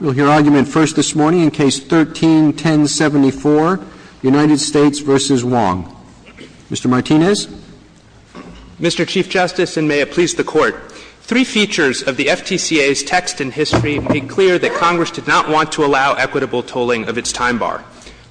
We'll hear argument first this morning in Case 13-1074, United States v. Wong. Mr. Martinez. Mr. Chief Justice, and may it please the Court, three features of the FTCA's text in history make clear that Congress did not want to allow equitable tolling of its time bar.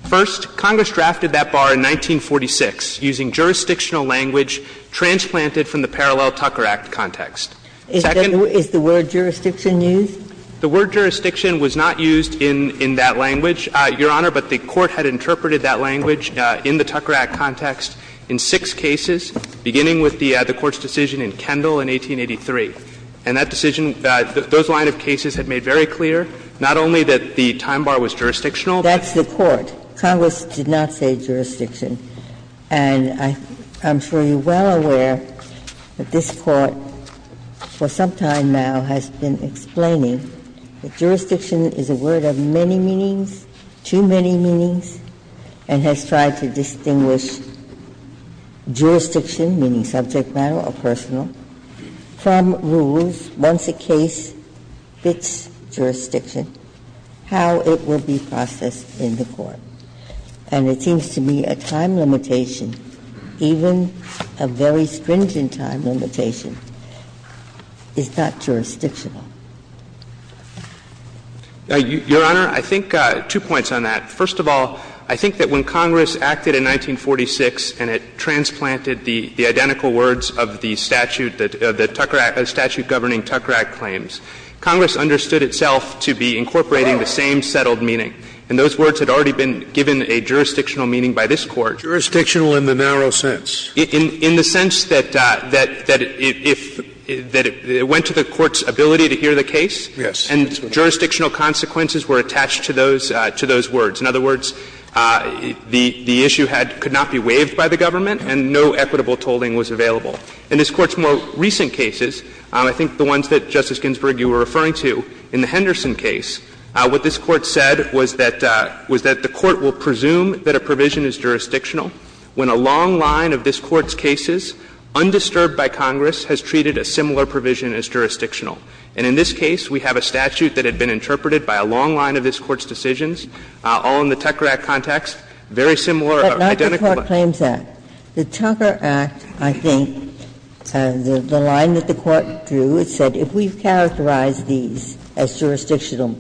First, Congress drafted that bar in 1946 using jurisdictional language transplanted from the Parallel Tucker Act context. Second— Is the word jurisdiction used? The word jurisdiction was not used in that language, Your Honor, but the Court had interpreted that language in the Tucker Act context in six cases, beginning with the Court's decision in Kendall in 1883. And that decision, those line of cases had made very clear not only that the time bar was jurisdictional, but— That's the Court. Congress did not say jurisdiction. And I'm sure you're well aware that this Court for some time now has been explaining that jurisdiction is a word of many meanings, too many meanings, and has tried to distinguish jurisdiction, meaning subject matter or personal, from rules, once a case fits jurisdiction, how it will be processed in the Court. And it seems to me a time limitation, even a very stringent time limitation, is not jurisdictional. Your Honor, I think two points on that. First of all, I think that when Congress acted in 1946 and it transplanted the identical words of the statute that the Tucker Act — the statute governing Tucker Act claims, Congress understood itself to be incorporating the same settled meaning. And those words had already been given a jurisdictional meaning by this Court. Jurisdictional in the narrow sense? In the sense that it went to the Court's ability to hear the case. Yes. And jurisdictional consequences were attached to those words. In other words, the issue could not be waived by the government and no equitable tolling was available. In this Court's more recent cases, I think the ones that, Justice Ginsburg, you were referring to in the Henderson case, what this Court said was that the Court will presume that a provision is jurisdictional when a long line of this Court's cases, undisturbed by Congress, has treated a similar provision as jurisdictional. And in this case, we have a statute that had been interpreted by a long line of this Court's decisions, all in the Tucker Act context, very similar, identical. But not the Clark Claims Act. The Tucker Act, I think, the line that the Court drew, it said if we've characterized these as jurisdictional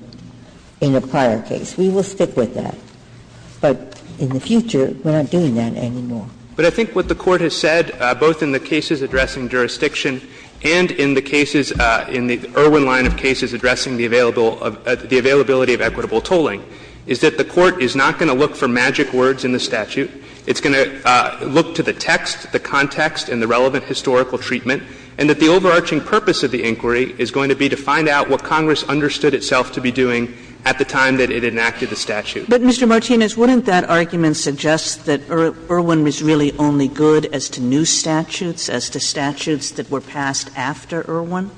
in a prior case, we will stick with that. But in the future, we're not doing that anymore. But I think what the Court has said, both in the cases addressing jurisdiction and in the cases, in the Irwin line of cases addressing the available, the availability of equitable tolling, is that the Court is not going to look for magic words in the statute. It's going to look to the text, the context, and the relevant historical treatment, and that the overarching purpose of the inquiry is going to be to find out what Congress understood itself to be doing at the time that it enacted the statute. But, Mr. Martinez, wouldn't that argument suggest that Irwin was really only good as to new statutes, as to statutes that were passed after Irwin?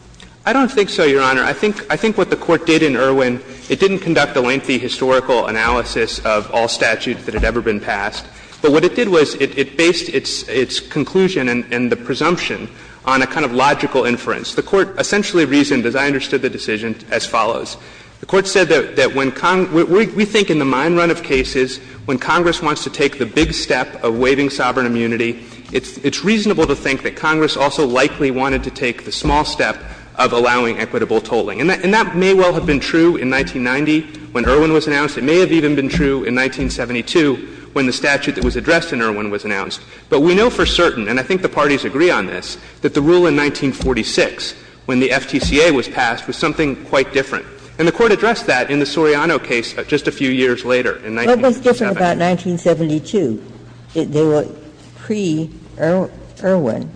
I don't think so, Your Honor. I think what the Court did in Irwin, it didn't conduct a lengthy historical analysis of all statutes that had ever been passed. But what it did was it based its conclusion and the presumption on a kind of logical inference. The Court essentially reasoned, as I understood the decision, as follows. The Court said that when Congress – we think in the mine run of cases, when Congress wants to take the big step of waiving sovereign immunity, it's reasonable to think that Congress also likely wanted to take the small step of allowing equitable tolling. And that may well have been true in 1990 when Irwin was announced. It may have even been true in 1972 when the statute that was addressed in Irwin was announced. But we know for certain, and I think the parties agree on this, that the rule in 1946 when the FTCA was passed was something quite different. And the Court addressed that in the Soriano case just a few years later, in 1977. Ginsburg. What was different about 1972? They were pre-Irwin.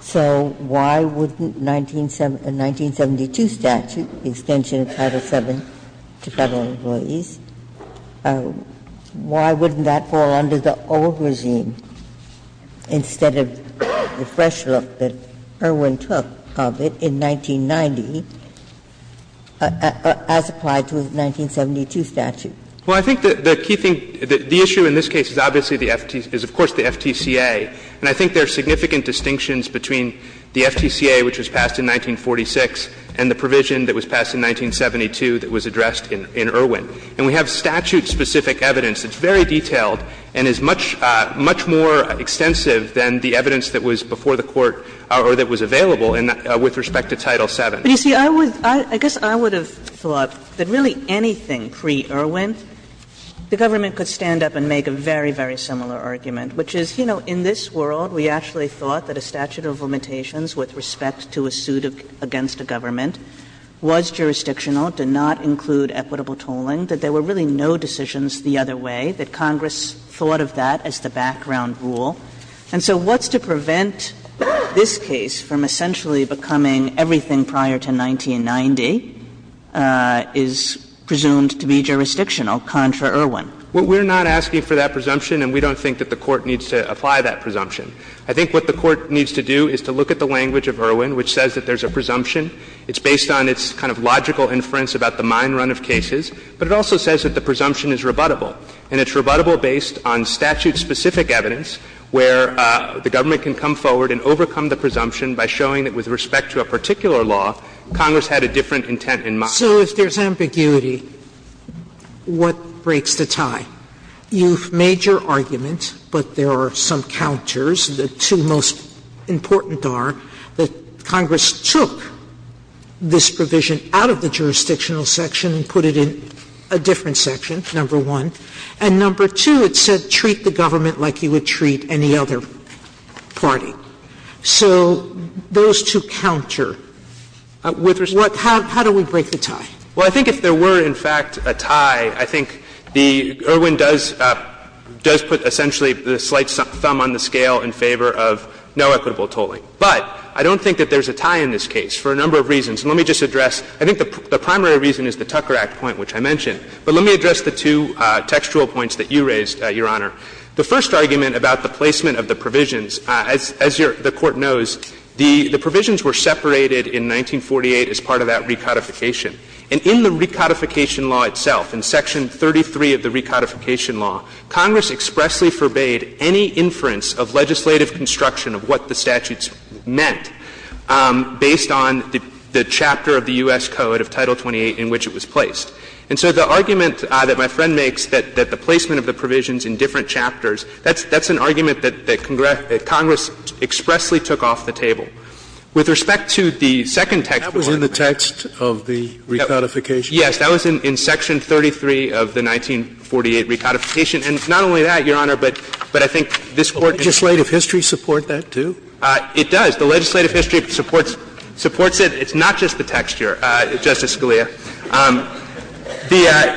So why wouldn't a 1972 statute, the extension of Title VII to Federal employees, why wouldn't that fall under the old regime instead of the fresh look that Irwin took of it in 1990? As applied to a 1972 statute. Well, I think the key thing – the issue in this case is obviously the FT – is of course the FTCA. And I think there are significant distinctions between the FTCA, which was passed in 1946, and the provision that was passed in 1972 that was addressed in Irwin. And we have statute-specific evidence that's very detailed and is much, much more extensive than the evidence that was before the Court or that was available with respect to Title VII. But you see, I would – I guess I would have thought that really anything pre-Irwin, the government could stand up and make a very, very similar argument, which is, you know, in this world we actually thought that a statute of limitations with respect to a suit against a government was jurisdictional, did not include equitable tolling, that there were really no decisions the other way, that Congress thought of that as the background rule. And so what's to prevent this case from essentially becoming everything prior to 1990 is presumed to be jurisdictional, contra Irwin? Well, we're not asking for that presumption, and we don't think that the Court needs to apply that presumption. I think what the Court needs to do is to look at the language of Irwin, which says that there's a presumption. It's based on its kind of logical inference about the mine run of cases, but it also says that the presumption is rebuttable. And it's rebuttable based on statute-specific evidence where the government can come forward and overcome the presumption by showing that with respect to a particular law, Congress had a different intent in mind. Sotomayor So if there's ambiguity, what breaks the tie? You've made your argument, but there are some counters. The two most important are that Congress took this provision out of the jurisdictional section and put it in a different section, number one, and number two, it said treat the government like you would treat any other party. So those two counter. How do we break the tie? Well, I think if there were, in fact, a tie, I think the Irwin does put essentially the slight thumb on the scale in favor of no equitable tolling. But I don't think that there's a tie in this case for a number of reasons. And let me just address, I think the primary reason is the Tucker Act point, which I mentioned. But let me address the two textual points that you raised, Your Honor. The first argument about the placement of the provisions, as your – the Court knows, the provisions were separated in 1948 as part of that recodification. And in the recodification law itself, in section 33 of the recodification law, Congress expressly forbade any inference of legislative construction of what the statutes meant based on the chapter of the U.S. Code of Title 28 in which it was placed. And so the argument that my friend makes that the placement of the provisions in different chapters, that's an argument that Congress expressly took off the table. With respect to the second text point of the recodification law, that was in section 33 of the 1948 recodification law. And not only that, Your Honor, but I think this Court can support that. It does. The legislative history supports it. It's not just the texture, Justice Scalia.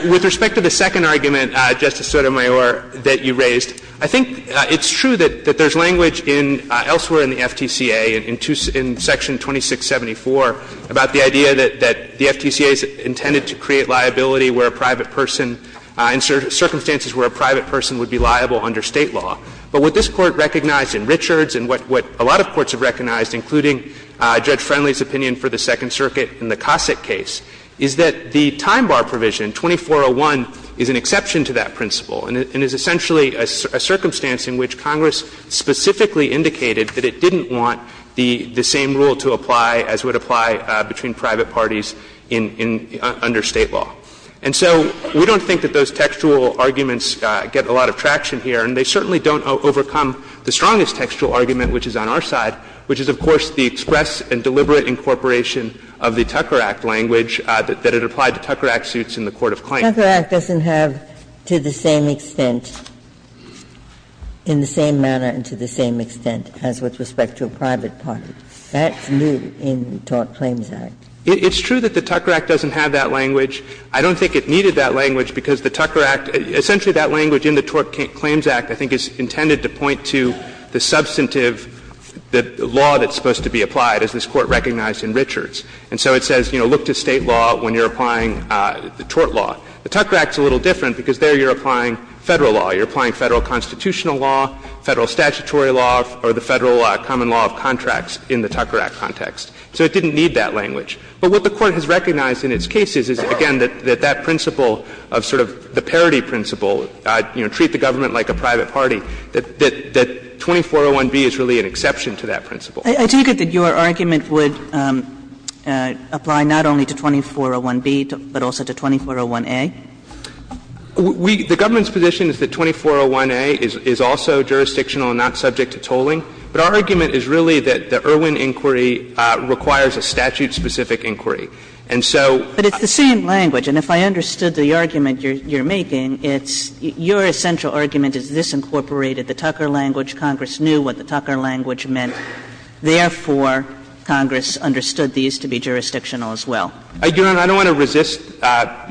With respect to the second argument, Justice Sotomayor, that you raised, I think it's true that there's language elsewhere in the FTCA, in section 2674, about the idea that the FTCA is intended to create liability where a private person – in circumstances where a private person would be liable under State law. But what this Court recognized in Richards and what a lot of courts have recognized, including Judge Friendly's opinion for the Second Circuit in the Cossack case, is that the time bar provision, 2401, is an exception to that principle and is essentially a circumstance in which Congress specifically indicated that it didn't want the same rule to apply as would apply between private parties in – under State law. And so we don't think that those textual arguments get a lot of traction here, and they certainly don't overcome the strongest textual argument, which is on our side, which is, of course, the express and deliberate incorporation of the Tucker Act language that it applied to Tucker Act suits in the Court of Claims. Ginsburg. Tucker Act doesn't have, to the same extent, in the same manner and to the same extent as with respect to a private party. That's new in the Tort Claims Act. It's true that the Tucker Act doesn't have that language. I don't think it needed that language because the Tucker Act – essentially that language in the Tort Claims Act, I think, is intended to point to the substantive law that's supposed to be applied, as this Court recognized in Richards. And so it says, you know, look to State law when you're applying the tort law. The Tucker Act's a little different because there you're applying Federal law. You're applying Federal constitutional law, Federal statutory law, or the Federal common law of contracts in the Tucker Act context. So it didn't need that language. But what the Court has recognized in its cases is, again, that that principle of sort of the parity principle, you know, treat the government like a private party, that 2401B is really an exception to that principle. Kagan, I take it that your argument would apply not only to 2401B, but also to 2401A? We – the government's position is that 2401A is also jurisdictional and not subject to tolling. But our argument is really that the Irwin inquiry requires a statute-specific inquiry. And so – But it's the same language. And if I understood the argument you're making, it's your essential argument is this incorporated the Tucker language. Congress knew what the Tucker language meant. Therefore, Congress understood these to be jurisdictional as well. Your Honor, I don't want to resist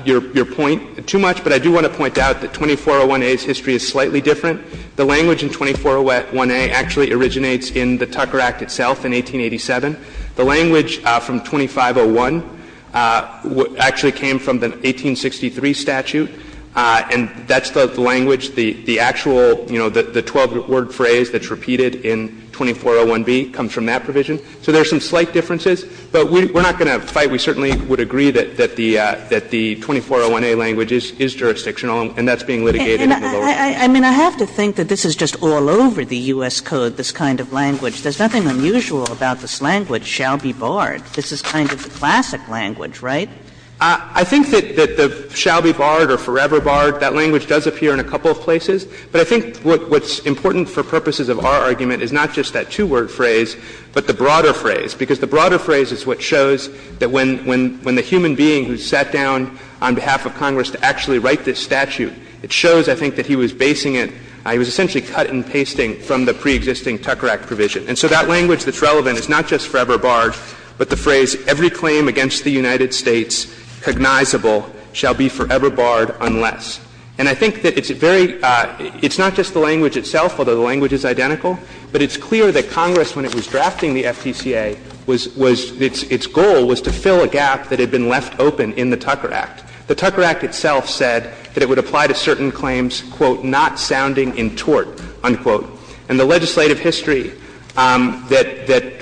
your point too much, but I do want to point out that 2401A's history is slightly different. The language in 2401A actually originates in the Tucker Act itself in 1887. The language from 2501 actually came from the 1863 statute, and that's the language – the actual, you know, the 12-word phrase that's repeated in 2401B comes from that provision. So there are some slight differences, but we're not going to fight. We certainly would agree that the – that the 2401A language is jurisdictional and that's being litigated in the lower court. Kagan. I mean, I have to think that this is just all over the U.S. Code, this kind of language. There's nothing unusual about this language, shall be barred. This is kind of the classic language, right? I think that the shall be barred or forever barred, that language does appear in a couple of places. But I think what's important for purposes of our argument is not just that two-word phrase, but the broader phrase, because the broader phrase is what shows that when the human being who sat down on behalf of Congress to actually write this statute, it shows, I think, that he was basing it – he was essentially cut and pasting from the preexisting Tucker Act provision. And so that language that's relevant is not just forever barred, but the phrase every claim against the United States cognizable shall be forever barred unless. And I think that it's very – it's not just the language itself, although the language is identical, but it's clear that Congress, when it was drafting the FTCA, was – was – its goal was to fill a gap that had been left open in the Tucker Act. The Tucker Act itself said that it would apply to certain claims, quote, not sounding in tort, unquote. And the legislative history that – that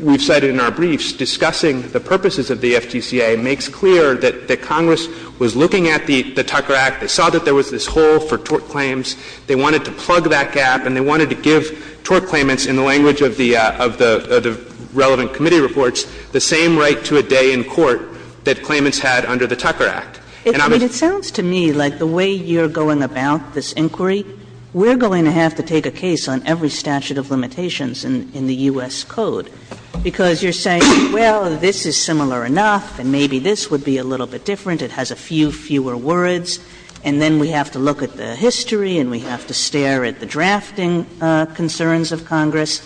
we've cited in our briefs discussing the purposes of the FTCA makes clear that Congress was looking at the Tucker Act, they saw that there was this hole for tort claims, they wanted to plug that gap, and they wanted to give tort claimants, in the language of the – of the relevant committee reports, the same right to a day in court that claimants had under the Tucker Act. And I'm assuming that's what Congress was looking at. Kagan. And it sounds to me like the way you're going about this inquiry, we're going to have to take a case on every statute of limitations in – in the U.S. Code, because you're saying, well, this is similar enough, and maybe this would be a little bit different, it has a few fewer words, and then we have to look at the history and we have to stare at the drafting concerns of Congress.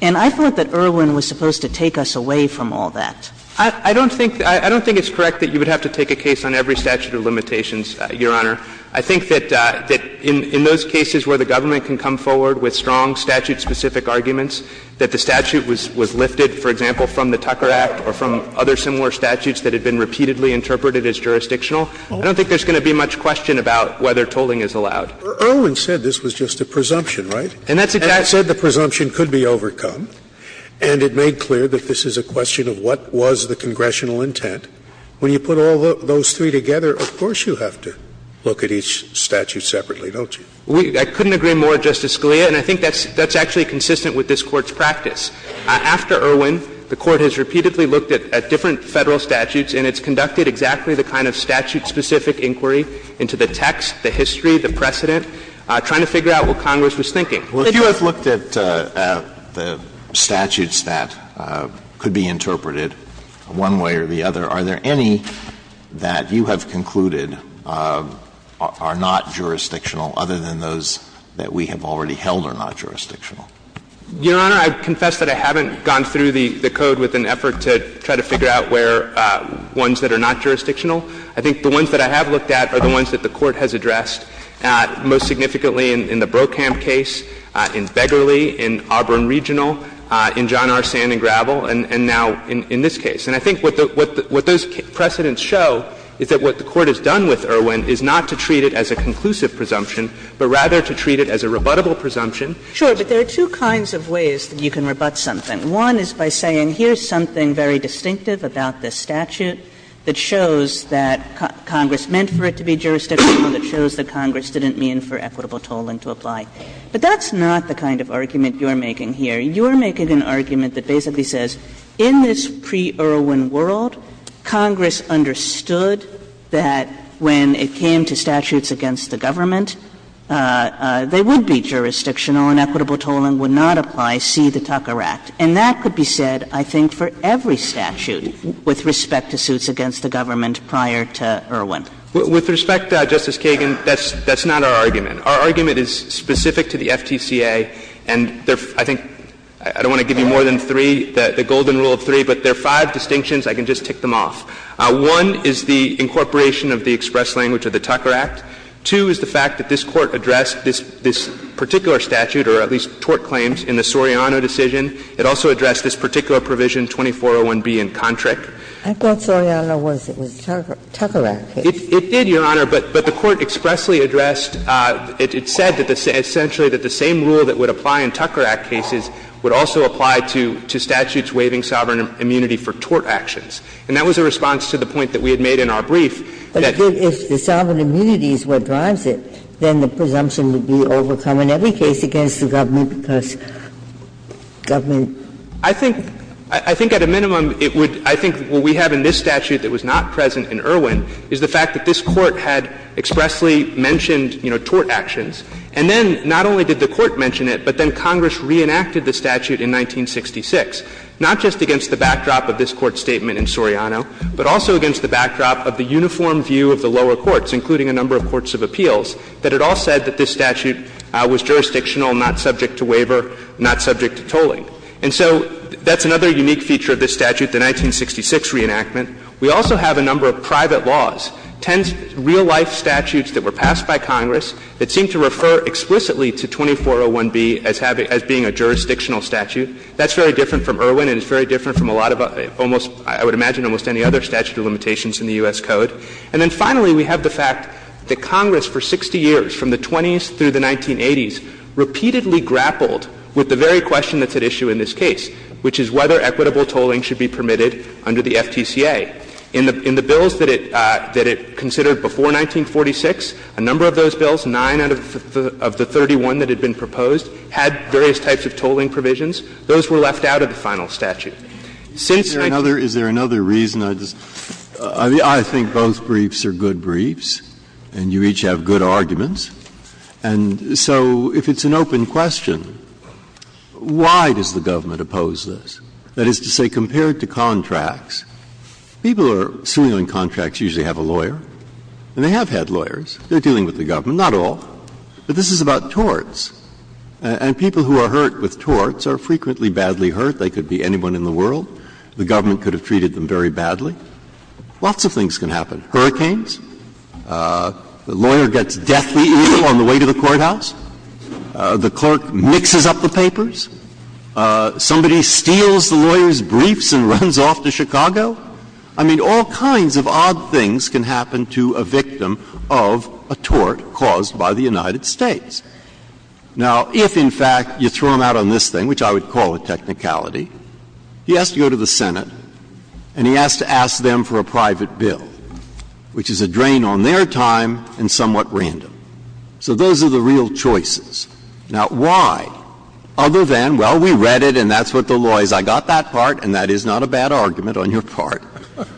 And I thought that Irwin was supposed to take us away from all that. I don't think – I don't think it's correct that you would have to take a case on every statute of limitations, Your Honor. I think that – that in those cases where the government can come forward with strong statute-specific arguments, that the statute was – was lifted, for example, from the Tucker Act or from other similar statutes that had been repeatedly interpreted as jurisdictional, I don't think there's going to be much question about whether tolling is allowed. Scalia, but Irwin said this was just a presumption, right? And that said the presumption could be overcome, and it made clear that this is a question of what was the congressional intent. When you put all those three together, of course you have to look at each statute separately, don't you? I couldn't agree more, Justice Scalia, and I think that's – that's actually consistent with this Court's practice. After Irwin, the Court has repeatedly looked at different Federal statutes, and it's conducted exactly the kind of statute-specific inquiry into the text, the history, the precedent, trying to figure out what Congress was thinking. Alito, if you have looked at the statutes that could be interpreted one way or the other, are there any that you have concluded are not jurisdictional other than those that we have already held are not jurisdictional? Your Honor, I confess that I haven't gone through the code with an effort to try to figure out where ones that are not jurisdictional. I think the ones that I have looked at are the ones that the Court has addressed most significantly in the Brokamp case, in Begley, in Auburn Regional, in John R. Sand and Gravel, and now in this case. And I think what those precedents show is that what the Court has done with Irwin is not to treat it as a conclusive presumption, but rather to treat it as a rebuttable presumption. Sure. But there are two kinds of ways that you can rebut something. One is by saying here's something very distinctive about this statute that shows that Congress meant for it to be jurisdictional, that shows that Congress didn't mean for equitable tolling to apply. But that's not the kind of argument you're making here. You're making an argument that basically says in this pre-Irwin world, Congress understood that when it came to statutes against the government, they would be jurisdictional and equitable tolling would not apply, see the Tucker Act. And that could be said, I think, for every statute with respect to suits against the government prior to Irwin. With respect, Justice Kagan, that's not our argument. Our argument is specific to the FTCA, and I think I don't want to give you more than three, the golden rule of three, but there are five distinctions. I can just tick them off. One is the incorporation of the express language of the Tucker Act. Two is the fact that this Court addressed this particular statute, or at least tort claims, in the Soriano decision. It also addressed this particular provision, 2401B in Kontrick. Ginsburg-Garza I thought Soriano was in the Tucker Act case. Goldstein, Jr. It did, Your Honor, but the Court expressly addressed, it said that essentially that the same rule that would apply in Tucker Act cases would also apply to statutes waiving sovereign immunity for tort actions. And that was a response to the point that we had made in our brief that the sovereign immunity is what drives it, then the presumption would be overcome in every case against the government because government. I think at a minimum it would – I think what we have in this statute that was not present in Irwin is the fact that this Court had expressly mentioned, you know, tort actions, and then not only did the Court mention it, but then Congress reenacted the statute in 1966, not just against the backdrop of this Court's statement in Soriano, but also against the backdrop of the uniform view of the lower courts, including a number of courts of appeals, that it all said that this statute was jurisdictional, not subject to waiver, not subject to tolling. And so that's another unique feature of this statute, the 1966 reenactment. We also have a number of private laws, ten real-life statutes that were passed by Congress that seem to refer explicitly to 2401b as having – as being a jurisdictional statute. That's very different from Irwin and it's very different from a lot of almost – I would imagine almost any other statute of limitations in the U.S. Code. And then we have a number of other statutes that are repeatedly grappled with the very question that's at issue in this case, which is whether equitable tolling should be permitted under the FTCA. In the bills that it considered before 1946, a number of those bills, 9 out of the 31 that had been proposed, had various types of tolling provisions. Those were left out of the final statute. Since I think the briefs are good briefs and you each have good arguments, and so if it's an open question, I think it's in question, why does the government oppose this? That is to say, compared to contracts, people who are suing on contracts usually have a lawyer, and they have had lawyers. They're dealing with the government, not all. But this is about torts. And people who are hurt with torts are frequently badly hurt. They could be anyone in the world. The government could have treated them very badly. Lots of things can happen. Hurricanes. A lawyer gets deathly ill on the way to the courthouse. The court has a lawyer. The clerk mixes up the papers. Somebody steals the lawyer's briefs and runs off to Chicago. I mean, all kinds of odd things can happen to a victim of a tort caused by the United States. Now, if, in fact, you throw him out on this thing, which I would call a technicality, he has to go to the Senate and he has to ask them for a private bill, which is a drain on their time and somewhat random. So those are the real choices. Now, why, other than, well, we read it and that's what the law is, I got that part and that is not a bad argument on your part,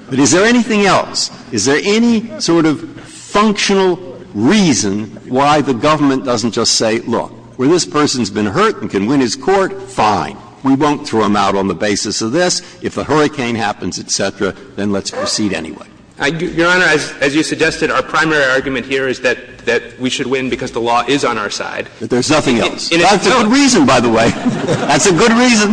but is there anything else? Is there any sort of functional reason why the government doesn't just say, look, well, this person has been hurt and can win his court, fine, we won't throw him out on the basis of this. If a hurricane happens, et cetera, then let's proceed anyway. Your Honor, as you suggested, our primary argument here is that we should win because the law is on our side. That there's nothing else. That's a good reason, by the way. That's a good reason.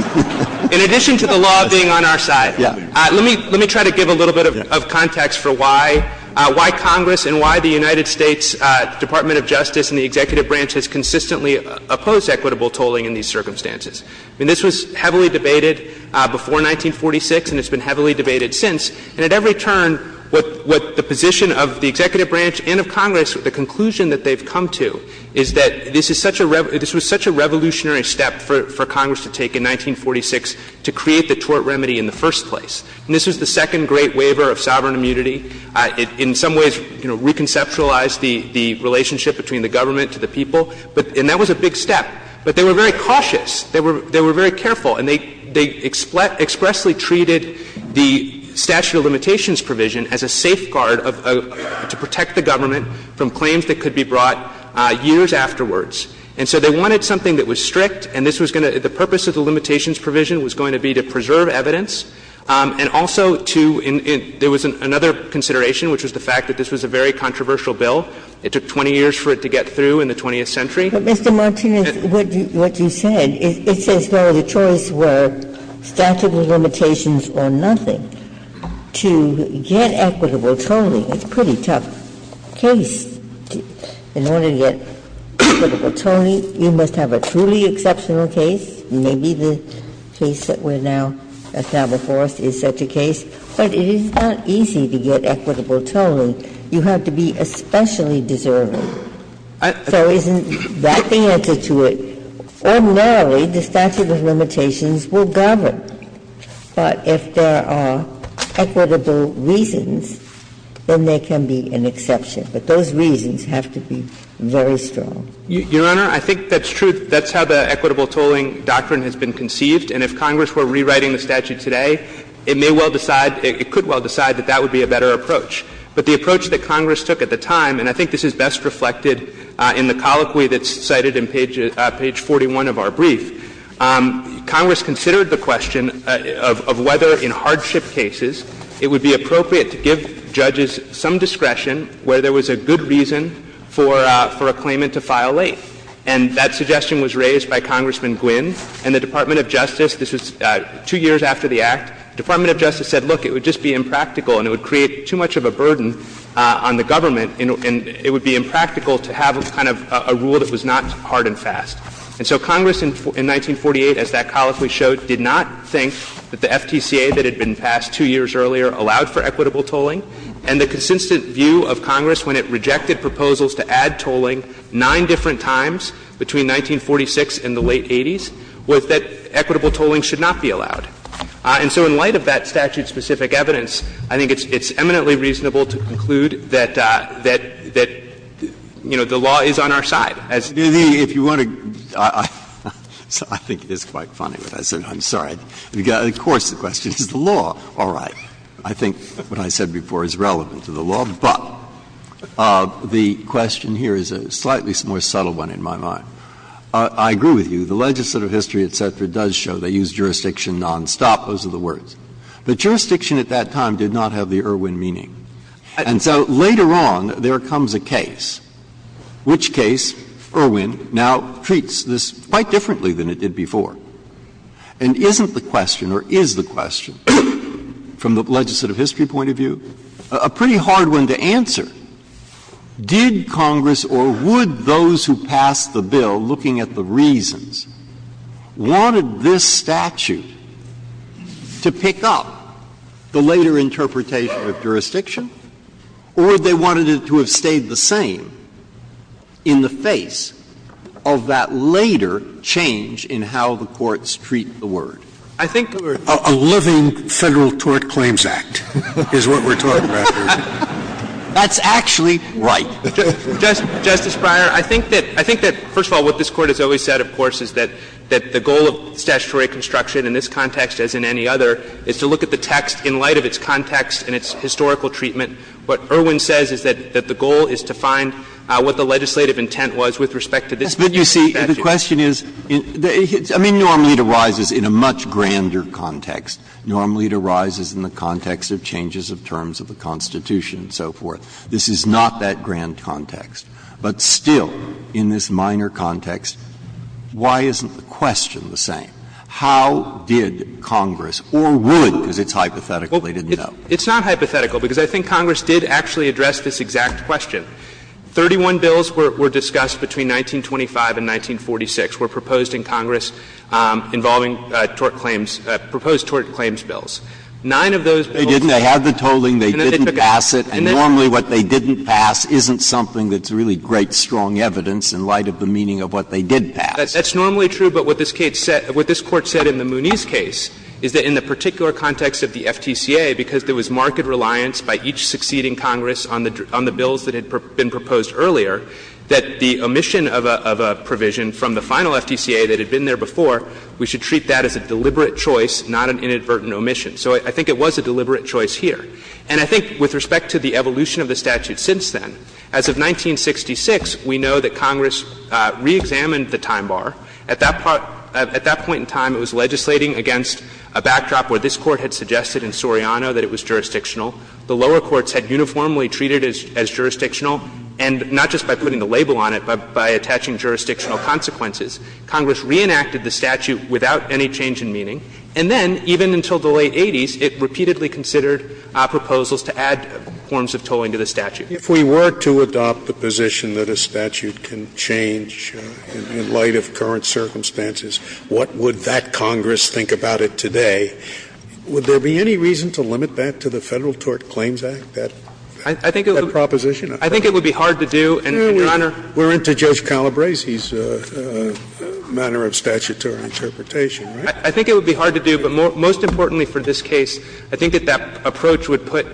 In addition to the law being on our side, let me try to give a little bit of context for why Congress and why the United States Department of Justice and the Executive Branch has consistently opposed equitable tolling in these circumstances. I mean, this was heavily debated before 1946 and it's been heavily debated since. But the conclusion that they've come to is that this is such a ‑‑ this was such a revolutionary step for Congress to take in 1946 to create the tort remedy in the first place. And this was the second great waiver of sovereign immunity. It in some ways, you know, reconceptualized the relationship between the government to the people. And that was a big step. But they were very cautious. They were very careful. And they expressly treated the statute of limitations provision as a safeguard to protect the government from claims that could be brought years afterwards. And so they wanted something that was strict and this was going to ‑‑ the purpose of the limitations provision was going to be to preserve evidence and also to ‑‑ there was another consideration, which was the fact that this was a very controversial bill. It took 20 years for it to get through in the 20th century. But, Mr. Martinez, what you said, it says, no, the choice were statute of limitations or nothing. To get equitable tolling, it's a pretty tough case. In order to get equitable tolling, you must have a truly exceptional case. Maybe the case that we're now ‑‑ that's now before us is such a case. But it is not easy to get equitable tolling. You have to be especially deserving. So isn't that the answer to it? Ordinarily, the statute of limitations will govern. But if there are equitable reasons, then there can be an exception. But those reasons have to be very strong. Martinez, Your Honor, I think that's true. That's how the equitable tolling doctrine has been conceived. And if Congress were rewriting the statute today, it may well decide, it could well decide that that would be a better approach. But the approach that Congress took at the time, and I think this is best reflected in the colloquy that's cited in page 41 of our brief, Congress considered the question of whether in hardship cases, it would be appropriate to give judges some discretion where there was a good reason for a claimant to file late. And that suggestion was raised by Congressman Gwinn. And the Department of Justice, this was two years after the Act, the Department of Justice said, look, it would just be impractical and it would create too much of a burden on the government, and it would be impractical to have kind of a rule that was not hard and fast. And so Congress in 1948, as that colloquy showed, did not think that the FTCA that had been passed two years earlier allowed for equitable tolling. And the consistent view of Congress when it rejected proposals to add tolling nine different times between 1946 and the late 80s was that equitable tolling should not be allowed. And so in light of that statute-specific evidence, I think it's eminently reasonable to conclude that, you know, the law is on our side. Breyer-Cooks So I think it's quite funny what I said, I'm sorry. You've got, of course, the question is the law, all right. I think what I said before is relevant to the law. But the question here is a slightly more subtle one in my mind. I agree with you. The legislative history, et cetera, does show they use jurisdiction nonstop, those are the words. But jurisdiction at that time did not have the Irwin meaning. And so later on, there comes a case. Which case, Irwin, now treats this quite differently than it did before. And isn't the question, or is the question, from the legislative history point of view, a pretty hard one to answer. Did Congress, or would those who passed the bill, looking at the reasons, wanted this statute to pick up the later interpretation of jurisdiction, or would they wanted it to have stayed the same in the face of that later change in how the courts treat the word? I think we're talking about a living Federal Tort Claims Act, is what we're talking about here. That's actually right. Justice Breyer, I think that, first of all, what this Court has always said, of course, is that the goal of statutory construction in this context, as in any other, is to look at the text in light of its context and its historical treatment. What Irwin says is that the goal is to find what the legislative intent was with respect to this particular statute. Breyer, I mean, normally it arises in a much grander context. Normally it arises in the context of changes of terms of the Constitution and so forth. This is not that grand context. But still, in this minor context, why isn't the question the same? How did Congress, or would, because it's hypothetical, they didn't know. It's not hypothetical, because I think Congress did actually address this exact question. Thirty-one bills were discussed between 1925 and 1946, were proposed in Congress involving tort claims, proposed tort claims bills. Nine of those bills were not. They didn't, they had the tolling, they didn't pass it, and normally what they didn't pass isn't something that's really great, strong evidence in light of the meaning of what they did pass. That's normally true, but what this case said, what this Court said in the Mooney's case, is that in the particular context of the FTCA, because there was marked reliance by each succeeding Congress on the bills that had been proposed earlier, that the omission of a provision from the final FTCA that had been there before, we should treat that as a deliberate choice, not an inadvertent omission. So I think it was a deliberate choice here. And I think with respect to the evolution of the statute since then, as of 1966, we know that Congress reexamined the time bar. At that point in time, it was legislating against a backdrop where this Court had suggested in Soriano that it was jurisdictional. The lower courts had uniformly treated it as jurisdictional, and not just by putting the label on it, but by attaching jurisdictional consequences. Congress reenacted the statute without any change in meaning, and then, even until the late 80s, it repeatedly considered proposals to add forms of tolling to the statute. Scalia, if we were to adopt the position that a statute can change in light of current circumstances, what would that Congress think about it today? Would there be any reason to limit that to the Federal Tort Claims Act, that proposition? I think it would be hard to do, and, Your Honor We're into Judge Calabresi's manner of statutory interpretation, right? I think it would be hard to do, but most importantly for this case, I think that approach would put,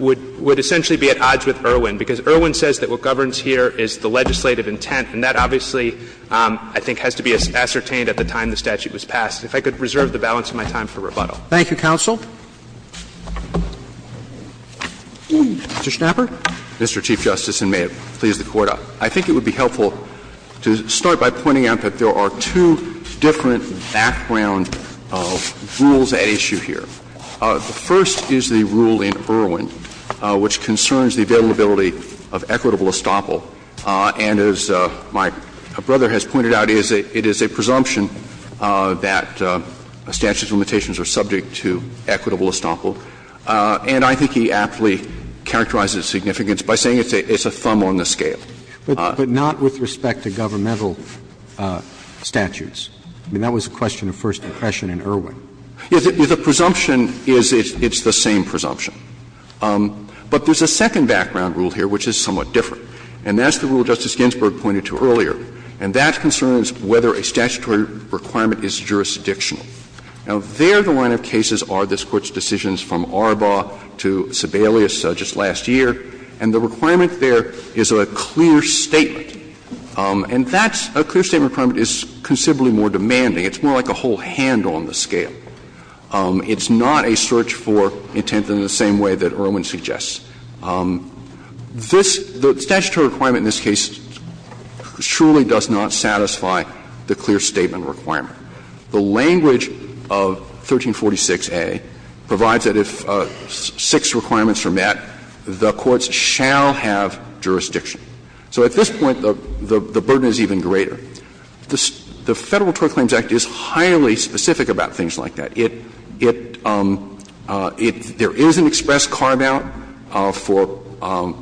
would essentially be at odds with Irwin, because Irwin says that what governs here is the legislative intent, and that obviously, I think, has to be ascertained at the time the statute was passed. If I could reserve the balance of my time for rebuttal. Thank you, counsel. Mr. Schnapper. Mr. Chief Justice, and may it please the Court, I think it would be helpful to start by pointing out that there are two different background rules at issue here. The first is the rule in Irwin, which concerns the availability of equitable estoppel. And as my brother has pointed out, it is a presumption that a statute's limitations are subject to equitable estoppel. And I think he aptly characterizes its significance by saying it's a thumb on the scale. But not with respect to governmental statutes. I mean, that was a question of first impression in Irwin. The presumption is it's the same presumption. But there's a second background rule here which is somewhat different, and that's the rule Justice Ginsburg pointed to earlier, and that concerns whether a statutory requirement is jurisdictional. Now, there the line of cases are this Court's decisions from Arbaugh to Sebelius just last year, and the requirement there is a clear statement. And that's – a clear statement requirement is considerably more demanding. It's more like a whole hand on the scale. It's not a search for intent in the same way that Irwin suggests. This – the statutory requirement in this case surely does not satisfy the clear statement requirement. The language of 1346a provides that if six requirements are met, the courts shall have jurisdiction. So at this point, the burden is even greater. The Federal Tort Claims Act is highly specific about things like that. It – it – there is an express carve-out for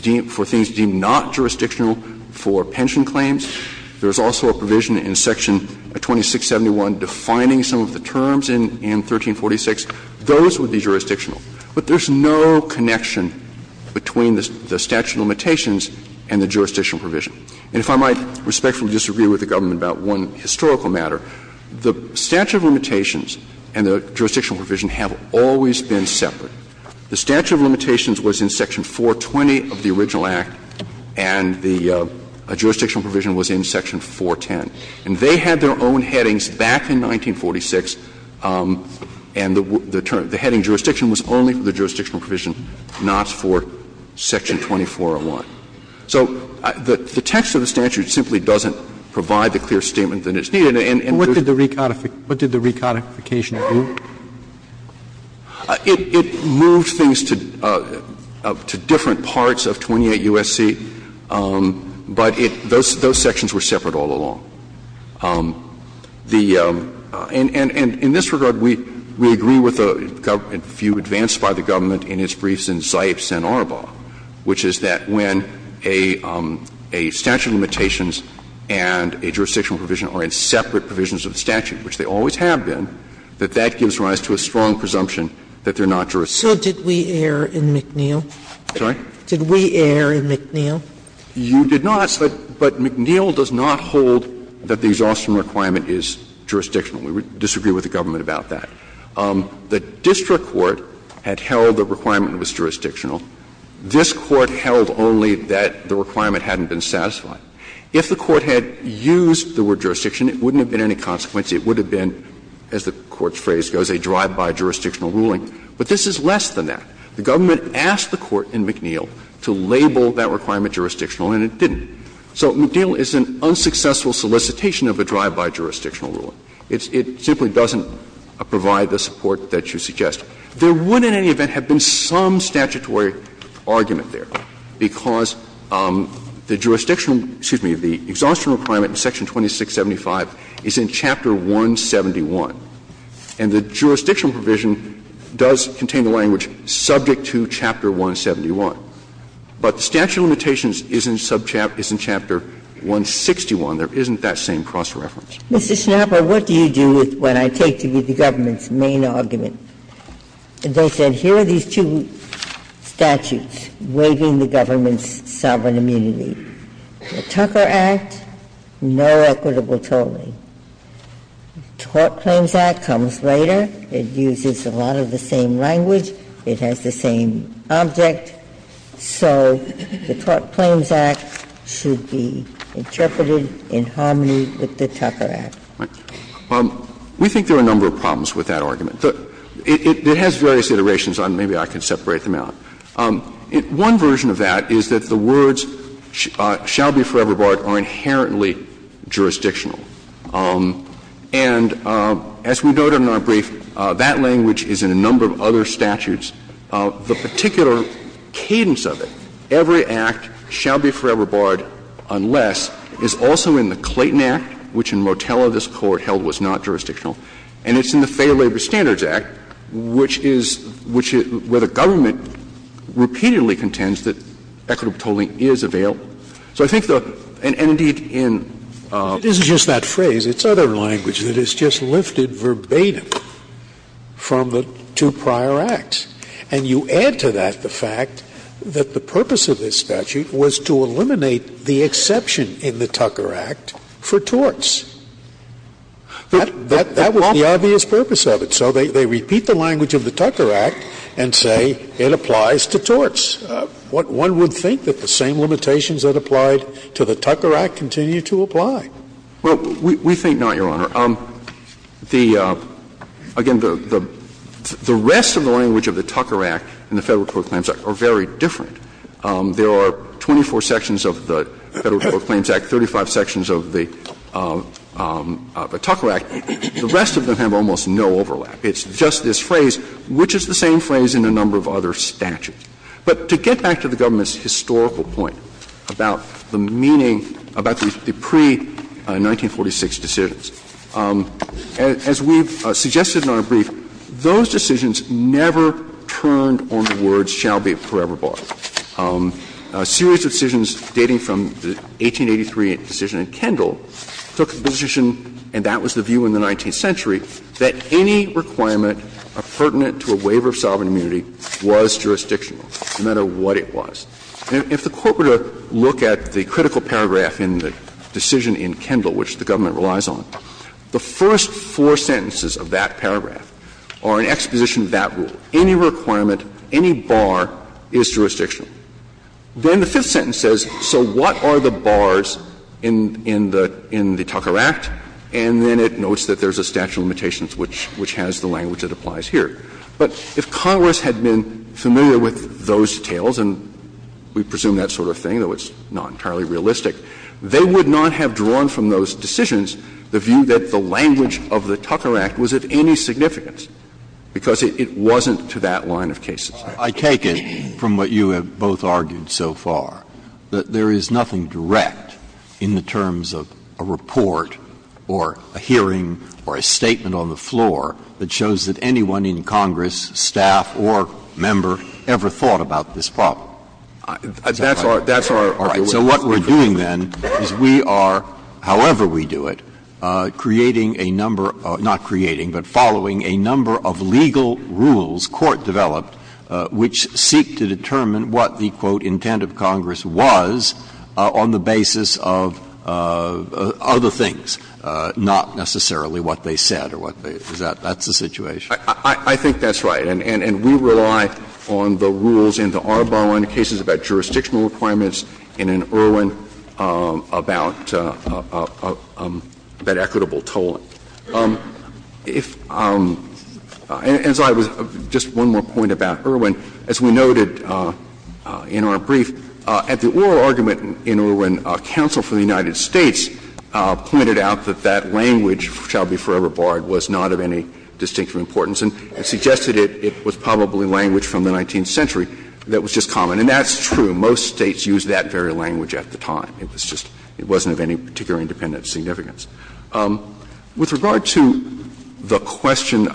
deemed – for things deemed not jurisdictional for pension claims. There is also a provision in section 2671 defining some of the terms in – in 1346. Those would be jurisdictional. But there's no connection between the statute of limitations and the jurisdictional provision. And if I might respectfully disagree with the government about one historical matter, the statute of limitations and the jurisdictional provision have always been separate. The statute of limitations was in section 420 of the original Act, and the jurisdictional provision was in section 410. And they had their own headings back in 1946, and the term – the heading jurisdiction was only for the jurisdictional provision, not for section 2401. So the text of the statute simply doesn't provide the clear statement that it's needed, and there's no connection. Roberts, What did the recodification do? It moved things to different parts of 28 U.S.C., but it – those sections were separate all along. The – and in this regard, we agree with the government, if you advance by the government, in its briefs in Zipes and Arbaugh, which is that when a statute of limitations and a jurisdictional provision are in separate provisions of the statute, which they always have been, that that gives rise to a strong presumption that they're not jurisdictional. Sotomayor, So did we err in McNeil? I'm sorry? Did we err in McNeil? You did not, but McNeil does not hold that the exhaustion requirement is jurisdictional. We disagree with the government about that. The district court had held the requirement was jurisdictional. This Court held only that the requirement hadn't been satisfied. If the Court had used the word jurisdiction, it wouldn't have been any consequence. It would have been, as the Court's phrase goes, a drive-by jurisdictional ruling. But this is less than that. The government asked the Court in McNeil to label that requirement jurisdictional and it didn't. So McNeil is an unsuccessful solicitation of a drive-by jurisdictional ruling. It simply doesn't provide the support that you suggest. There would in any event have been some statutory argument there, because the jurisdictional excuse me, the exhaustion requirement in Section 2675 is in Chapter 171. And the jurisdictional provision does contain the language, subject to Chapter 171. But the statute of limitations is in subchapter 161. There isn't that same cross-reference. Mr. Schnapper, what do you do with what I take to be the government's main argument? They said here are these two statutes waiving the government's sovereign immunity. The Tucker Act, no equitable tolling. The Tort Claims Act comes later. It uses a lot of the same language. It has the same object. So the Tort Claims Act should be interpreted in harmony with the Tucker Act. We think there are a number of problems with that argument. It has various iterations. Maybe I can separate them out. One version of that is that the words shall be forever barred are inherently jurisdictional. And as we noted in our brief, that language is in a number of other statutes. The particular cadence of it, every act shall be forever barred unless, is also in the Clayton Act, which in Motella this Court held was not jurisdictional, and it's in the Fair Labor Standards Act, which is where the government repeatedly contends that equitable tolling is available. So I think the – and, indeed, in the other language that is just lifted verbatim from the two prior acts, and you add to that the fact that the purpose of this statute was to eliminate the exception in the Tucker Act for torts. That was the obvious purpose of it. So they repeat the language of the Tucker Act and say it applies to torts. One would think that the same limitations that applied to the Tucker Act continue to apply. Well, we think not, Your Honor. The – again, the rest of the language of the Tucker Act and the Federal Tort Claims Act are very different. There are 24 sections of the Federal Tort Claims Act, 35 sections of the Tucker Act. The rest of them have almost no overlap. It's just this phrase, which is the same phrase in a number of other statutes. But to get back to the government's historical point about the meaning, about the pre-1946 decisions, as we've suggested in our brief, those decisions never turned on the words shall be forever barred. A series of decisions dating from the 1883 decision in Kendall took the position, and that was the view in the 19th century, that any requirement pertinent to a waiver of sovereign immunity was jurisdictional, no matter what it was. If the Court were to look at the critical paragraph in the decision in Kendall, which the government relies on, the first four sentences of that paragraph are an exposition of that rule. Any requirement, any bar is jurisdictional. Then the fifth sentence says, so what are the bars in the Tucker Act? And then it notes that there's a statute of limitations, which has the language that applies here. But if Congress had been familiar with those details, and we presume that sort of thing, though it's not entirely realistic, they would not have drawn from those decisions the view that the language of the Tucker Act was of any significance, because it wasn't applicable to that line of cases. Breyer. I take it, from what you have both argued so far, that there is nothing direct in the terms of a report or a hearing or a statement on the floor that shows that anyone in Congress, staff or member, ever thought about this problem. That's our argument. So what we're doing, then, is we are, however we do it, creating a number of — not a number of rules that the Court developed, which seek to determine what the, quote, intent of Congress was on the basis of other things, not necessarily what they said or what they — that's the situation. I think that's right, and we rely on the rules in the Arbonne cases about jurisdictional requirements and in Irwin about that equitable tolling. If — and as I was — just one more point about Irwin. As we noted in our brief, at the oral argument in Irwin, counsel for the United States pointed out that that language, shall be forever barred, was not of any distinctive importance and suggested it was probably language from the 19th century that was just common. And that's true. Most States used that very language at the time. It was just — it wasn't of any particular independent significance. With regard to the question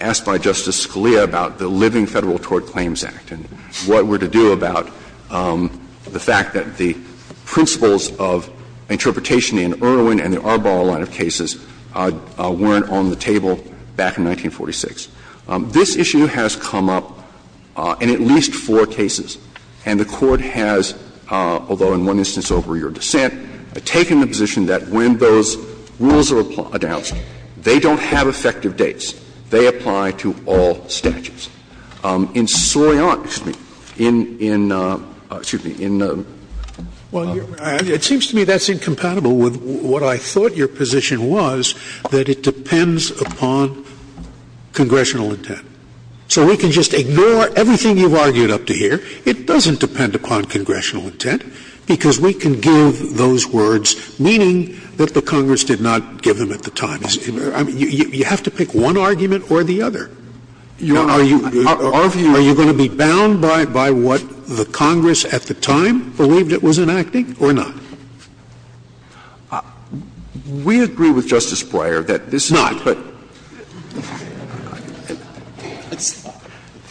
asked by Justice Scalia about the Living Federal Tort Claims Act and what we're to do about the fact that the principles of interpretation in Irwin and the Arbonne line of cases weren't on the table back in 1946, this issue has come up in at least four cases. And the Court has, although in one instance over your dissent, taken the position that when those rules are announced, they don't have effective dates, they apply to all statutes. In Soriant, excuse me, in — excuse me, in the other one. Scalia, it seems to me that's incompatible with what I thought your position was, that it depends upon congressional intent. So we can just ignore everything you've argued up to here. It doesn't depend upon congressional intent, because we can give those words, meaning that the Congress did not give them at the time. You have to pick one argument or the other. Are you going to be bound by what the Congress at the time believed it was enacting or not? We agree with Justice Breyer that this is not, but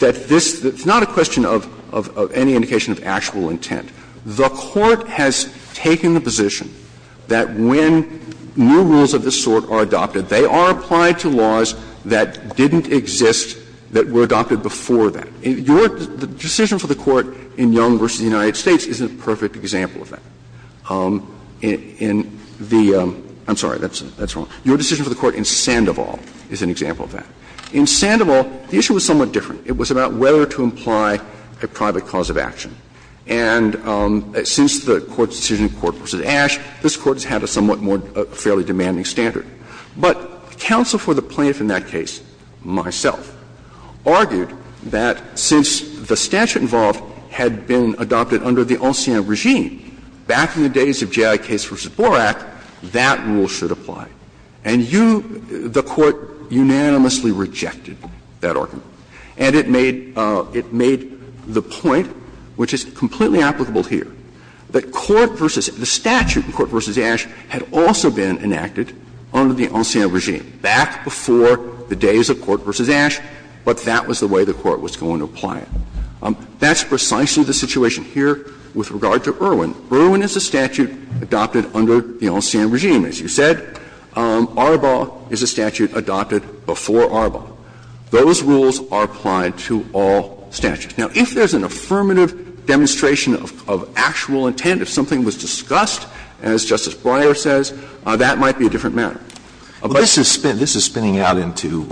— It's not a question of any indication of actual intent. The Court has taken the position that when new rules of this sort are adopted, they are applied to laws that didn't exist, that were adopted before that. Your decision for the Court in Young v. United States is a perfect example of that. In the — I'm sorry, that's wrong. Your decision for the Court in Sandoval is an example of that. In Sandoval, the issue was somewhat different. It was about whether to imply a private cause of action. And since the Court's decision in Court v. Ashe, this Court has had a somewhat more fairly demanding standard. But counsel for the plaintiff in that case, myself, argued that since the statute involved had been adopted under the ancien regime back in the days of J.I. Case v. Borak, that rule should apply. And you, the Court, unanimously rejected that argument. And it made — it made the point, which is completely applicable here, that court v. — the statute in Court v. Ashe had also been enacted under the ancien regime back before the days of Court v. Ashe, but that was the way the Court was going to apply it. That's precisely the situation here with regard to Irwin. Irwin is a statute adopted under the ancien regime, as you said. Arbaugh is a statute adopted before Arbaugh. Those rules are applied to all statutes. Now, if there's an affirmative demonstration of actual intent, if something was discussed, as Justice Breyer says, that might be a different matter. Alito, this is spinning out into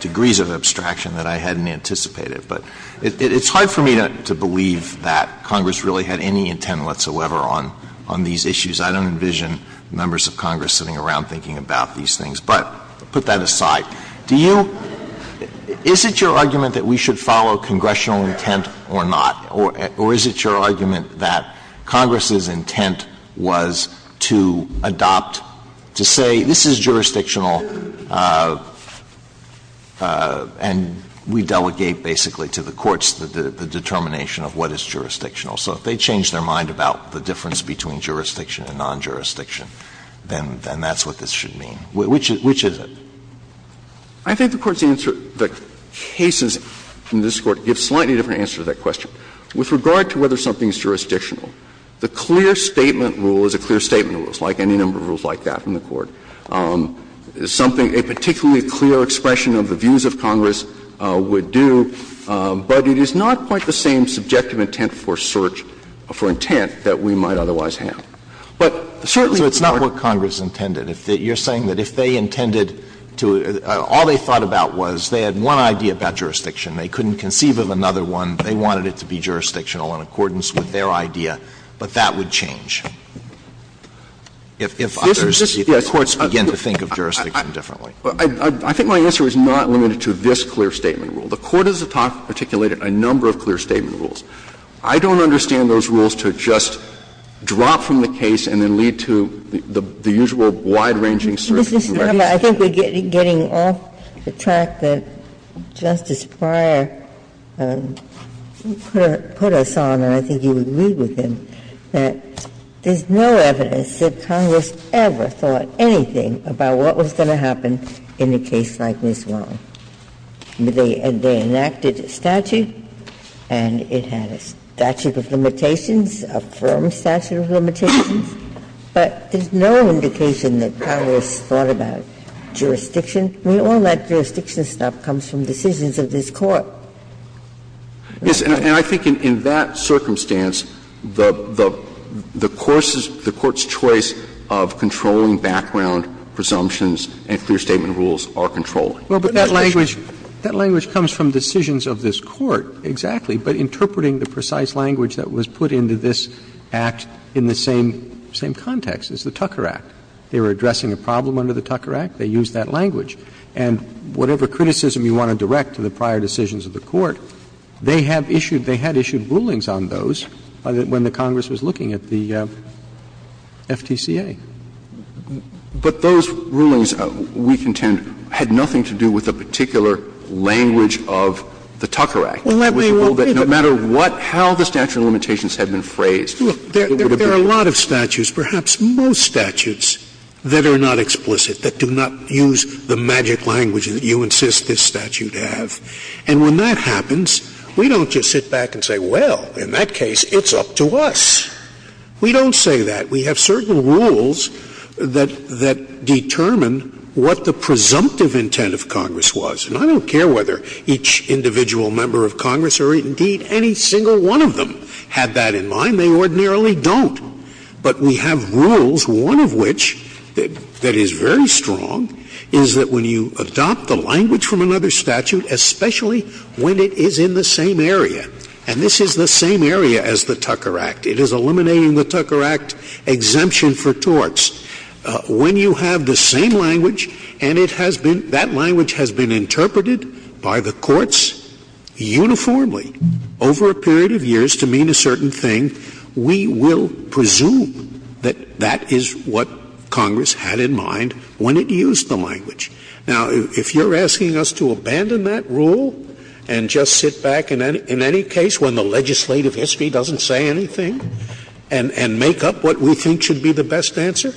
degrees of abstraction that I hadn't anticipated. But it's hard for me to believe that Congress really had any intent whatsoever on these issues. I don't envision members of Congress sitting around thinking about these things. But put that aside. Do you — is it your argument that we should follow congressional intent or not? Or is it your argument that Congress's intent was to adopt, to say, this is jurisdictional and we delegate basically to the courts the determination of what is jurisdictional. So if they change their mind about the difference between jurisdiction and non-jurisdiction, then that's what this should mean. Which is it? I think the Court's answer — the cases in this Court give a slightly different answer to that question. With regard to whether something is jurisdictional, the clear statement rule is a clear statement rule, like any number of rules like that in the Court. Something — a particularly clear expression of the views of Congress would do, but it is not quite the same subjective intent for search — for intent that we might otherwise have. But certainly the Court — So it's not what Congress intended. You're saying that if they intended to — all they thought about was they had one idea about jurisdiction, they couldn't conceive of another one, they wanted it to be jurisdictional in accordance with their idea, but that would change? If others — if courts begin to think of jurisdiction differently. I think my answer is not limited to this clear statement rule. The Court has articulated a number of clear statement rules. I don't understand those rules to just drop from the case and then lead to the usual wide-ranging search and arrest. I think we're getting off the track that Justice Breyer put us on, and I think you would agree with him, that there's no evidence that Congress ever thought anything about what was going to happen in a case like Ms. Wong. They enacted a statute, and it had a statute of limitations, a firm statute of limitations, but there's no indication that Congress thought about jurisdiction. I mean, all that jurisdiction stuff comes from decisions of this Court. Yes, and I think in that circumstance, the — the Court's choice of controlling background presumptions and clear statement rules are controlling. Well, but that language — that language comes from decisions of this Court, exactly. But interpreting the precise language that was put into this Act in the same — same context as the Tucker Act. They were addressing a problem under the Tucker Act. They used that language. And whatever criticism you want to direct to the prior decisions of the Court, they have issued — they had issued rulings on those when the Congress was looking at the FTCA. But those rulings, we contend, had nothing to do with a particular language of the Tucker Act. Well, that may well be, but — No matter what — how the statute of limitations had been phrased, it would have been — There are a lot of statutes, perhaps most statutes, that are not explicit, that do not use the magic language that you insist this statute have. And when that happens, we don't just sit back and say, well, in that case, it's up to us. We don't say that. We have certain rules that determine what the presumptive intent of Congress was. And I don't care whether each individual member of Congress or, indeed, any single one of them had that in mind. They ordinarily don't. But we have rules, one of which, that is very strong, is that when you adopt the language from another statute, especially when it is in the same area, and this is the same area as the Tucker Act, it is eliminating the Tucker Act exemption for torts. When you have the same language, and it has been — that language has been interpreted by the courts uniformly over a period of years to mean a certain thing, we will presume that that is what Congress had in mind when it used the language. Now, if you're asking us to abandon that rule and just sit back in any case when the legislative history doesn't say anything and make up what we think should be the best answer,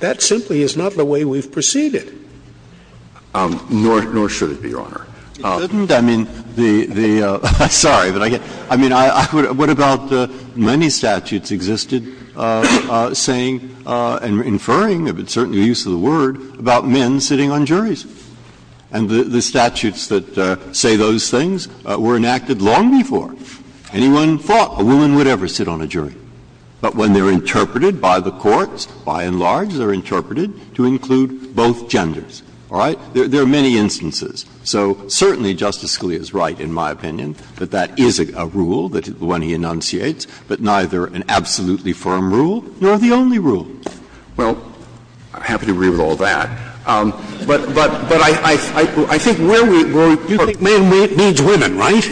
that simply is not the way we've proceeded. Nor should it be, Your Honor. It shouldn't. I mean, the — sorry. I mean, I would — what about many statutes existed saying and inferring, if it's certainly the use of the word, about men sitting on juries? And the statutes that say those things were enacted long before anyone thought a woman would ever sit on a jury. But when they're interpreted by the courts, by and large, they're interpreted to include both genders, all right? There are many instances. So certainly Justice Scalia is right, in my opinion, that that is a rule when he enunciates, but neither an absolutely firm rule nor the only rule. Well, I'm happy to agree with all that. But I think where we were, you think men needs women, right?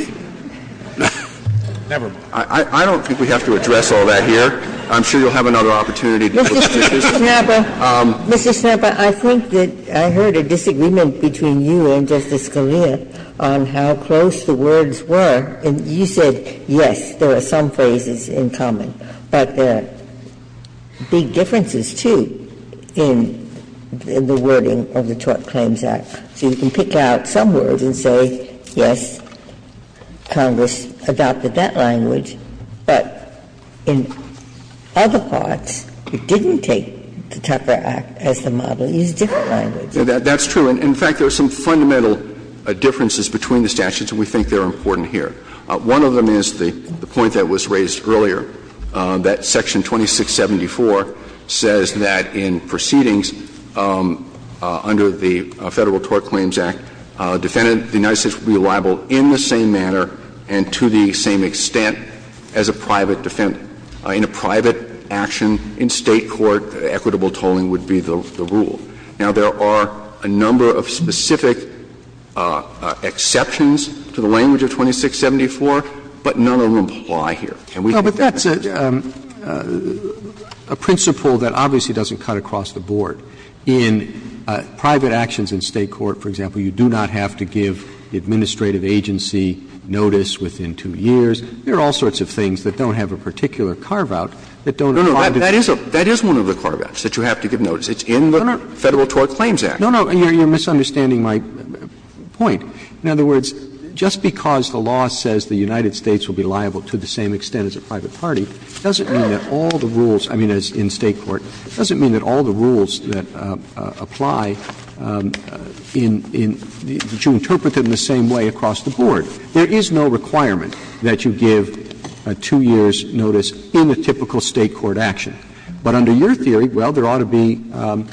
Never mind. I don't think we have to address all that here. I'm sure you'll have another opportunity to discuss this. Mr. Schnapper, I think that I heard a disagreement between you and Justice Scalia on how close the words were. And you said, yes, there are some phrases in common. But there are big differences, too, in the wording of the Tort Claims Act. So you can pick out some words and say, yes, Congress adopted that language. But in other parts, it didn't take the Tucker Act as the model. It used different languages. That's true. In fact, there are some fundamental differences between the statutes, and we think they're important here. One of them is the point that was raised earlier, that Section 2674 says that in proceedings under the Federal Tort Claims Act, a defendant in the United States will be liable in the same manner and to the same extent as a private defendant. In a private action in State court, equitable tolling would be the rule. Now, there are a number of specific exceptions to the language of 2674, but none of them apply here. Can we think that? Roberts That's a principle that obviously doesn't cut across the board. In private actions in State court, for example, you do not have to give administrative agency notice within two years. There are all sorts of things that don't have a particular carve-out that don't apply to State court. Scalia No, no. That is one of the carve-outs, that you have to give notice. It's in the Federal Tort Claims Act. Roberts No, no. You're misunderstanding my point. In other words, just because the law says the United States will be liable to the same extent as a private party, doesn't mean that all the rules, I mean, as in State court, doesn't mean that all the rules that apply in, that you interpret them the same way across the board. There is no requirement that you give a two-years notice in a typical State court action. But under your theory, well, there ought to be, do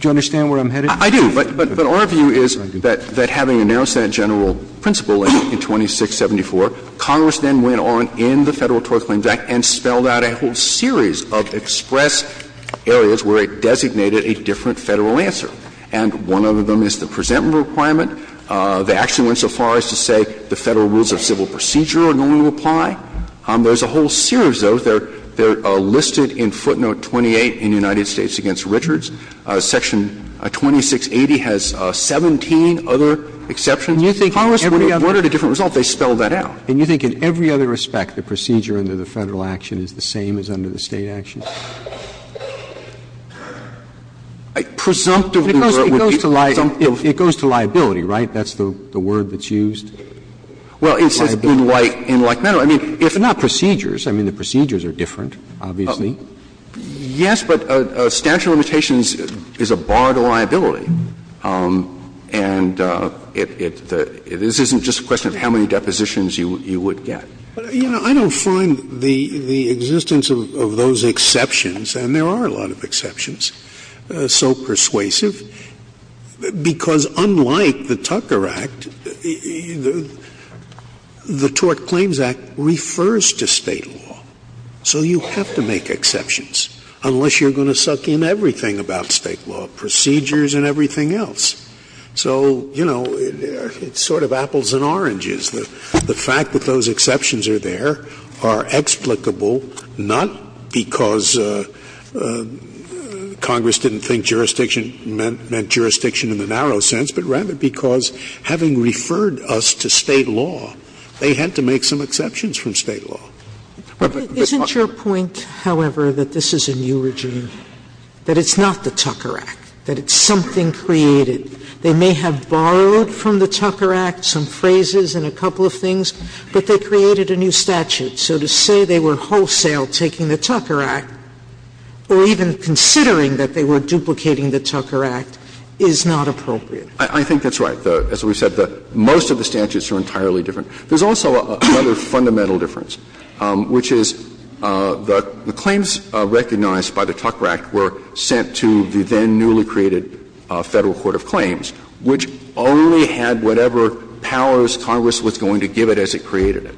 you understand where I'm headed? Scalia I do. But our view is that having a narrow Senate general principle in 2674, Congress then went on in the Federal Tort Claims Act and spelled out a whole series of express areas where it designated a different Federal answer. And one of them is the presentment requirement. They actually went so far as to say the Federal rules of civil procedure are going to apply. There's a whole series of those. They're listed in footnote 28 in United States v. Richards. Section 2680 has 17 other exceptions. Congress would have reported a different result if they spelled that out. And you think in every other respect, the procedure under the Federal action is the same as under the State action? Presumptively, or it would be presumptive. Roberts It goes to liability, right? That's the word that's used? Liability. Scalia Well, it's been like that. I mean, if not procedures, I mean, the procedures are different, obviously. Yes, but a statute of limitations is a bar to liability. And it isn't just a question of how many depositions you would get. Scalia You know, I don't find the existence of those exceptions, and there are a lot of exceptions, so persuasive, because unlike the Tucker Act, the Tort Claims Act refers to State law. So you have to make exceptions unless you're going to suck in everything about State law, procedures and everything else. So, you know, it's sort of apples and oranges. The fact that those exceptions are there are explicable, not because Congress didn't think jurisdiction meant jurisdiction in the narrow sense, but rather because having referred us to State law, they had to make some exceptions from State law. Sotomayor Isn't your point, however, that this is a new regime, that it's not the Tucker Act, that it's something created? They may have borrowed from the Tucker Act some phrases and a couple of things, but they created a new statute. So to say they were wholesale taking the Tucker Act or even considering that they were duplicating the Tucker Act is not appropriate. I think that's right. As we've said, most of the statutes are entirely different. There's also another fundamental difference, which is the claims recognized by the Tucker Act were sent to the then newly created Federal Court of Claims, which only had whatever powers Congress was going to give it as it created it.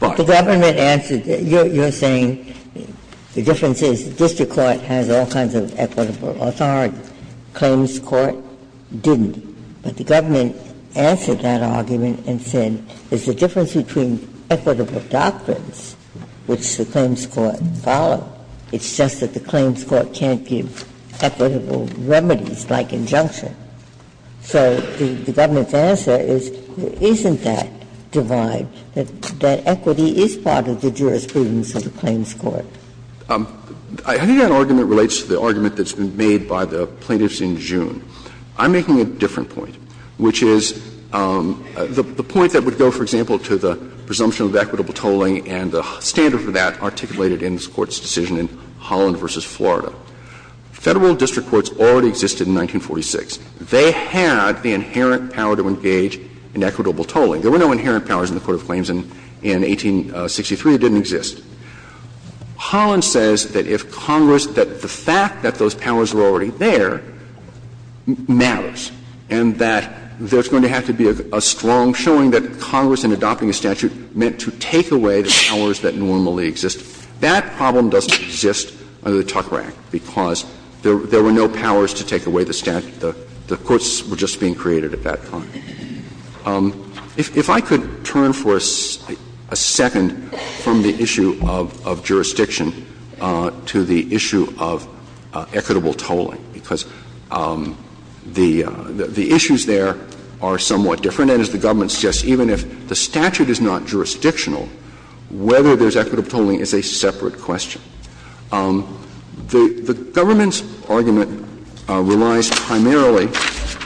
But the government answered that you're saying the difference is district court has all kinds of equitable authority, claims court didn't. But the government answered that argument and said there's a difference between equitable doctrines, which the claims court followed. It's just that the claims court can't give equitable remedies like injunction. So the government's answer is there isn't that divide, that equity is part of the jurisprudence of the claims court. I think that argument relates to the argument that's been made by the plaintiffs in June. I'm making a different point, which is the point that would go, for example, to the presumption of equitable tolling and the standard for that articulated in this Court's decision in Holland v. Florida. Federal district courts already existed in 1946. They had the inherent power to engage in equitable tolling. There were no inherent powers in the Court of Claims in 1863. It didn't exist. Holland says that if Congress, that the fact that those powers were already there matters, and that there's going to have to be a strong showing that Congress in adopting a statute meant to take away the powers that normally exist. That problem doesn't exist under the Tuck Act because there were no powers to take away the statute. The courts were just being created at that time. If I could turn for a second from the issue of jurisdiction to the issue of equitable tolling, because the issues there are somewhat different, and as the government suggests, even if the statute is not jurisdictional, whether there's equitable tolling is a separate question. The government's argument relies primarily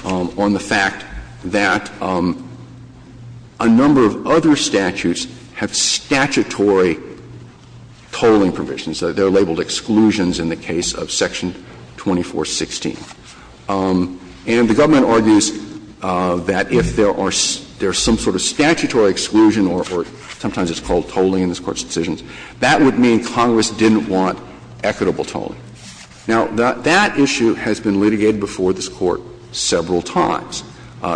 on the fact that a number of other statutes have statutory tolling provisions. They're labeled exclusions in the case of Section 2416. And the government argues that if there are some sort of statutory exclusion or sometimes it's called tolling in this Court's decisions, that would mean Congress didn't want equitable tolling. Now, that issue has been litigated before this Court several times.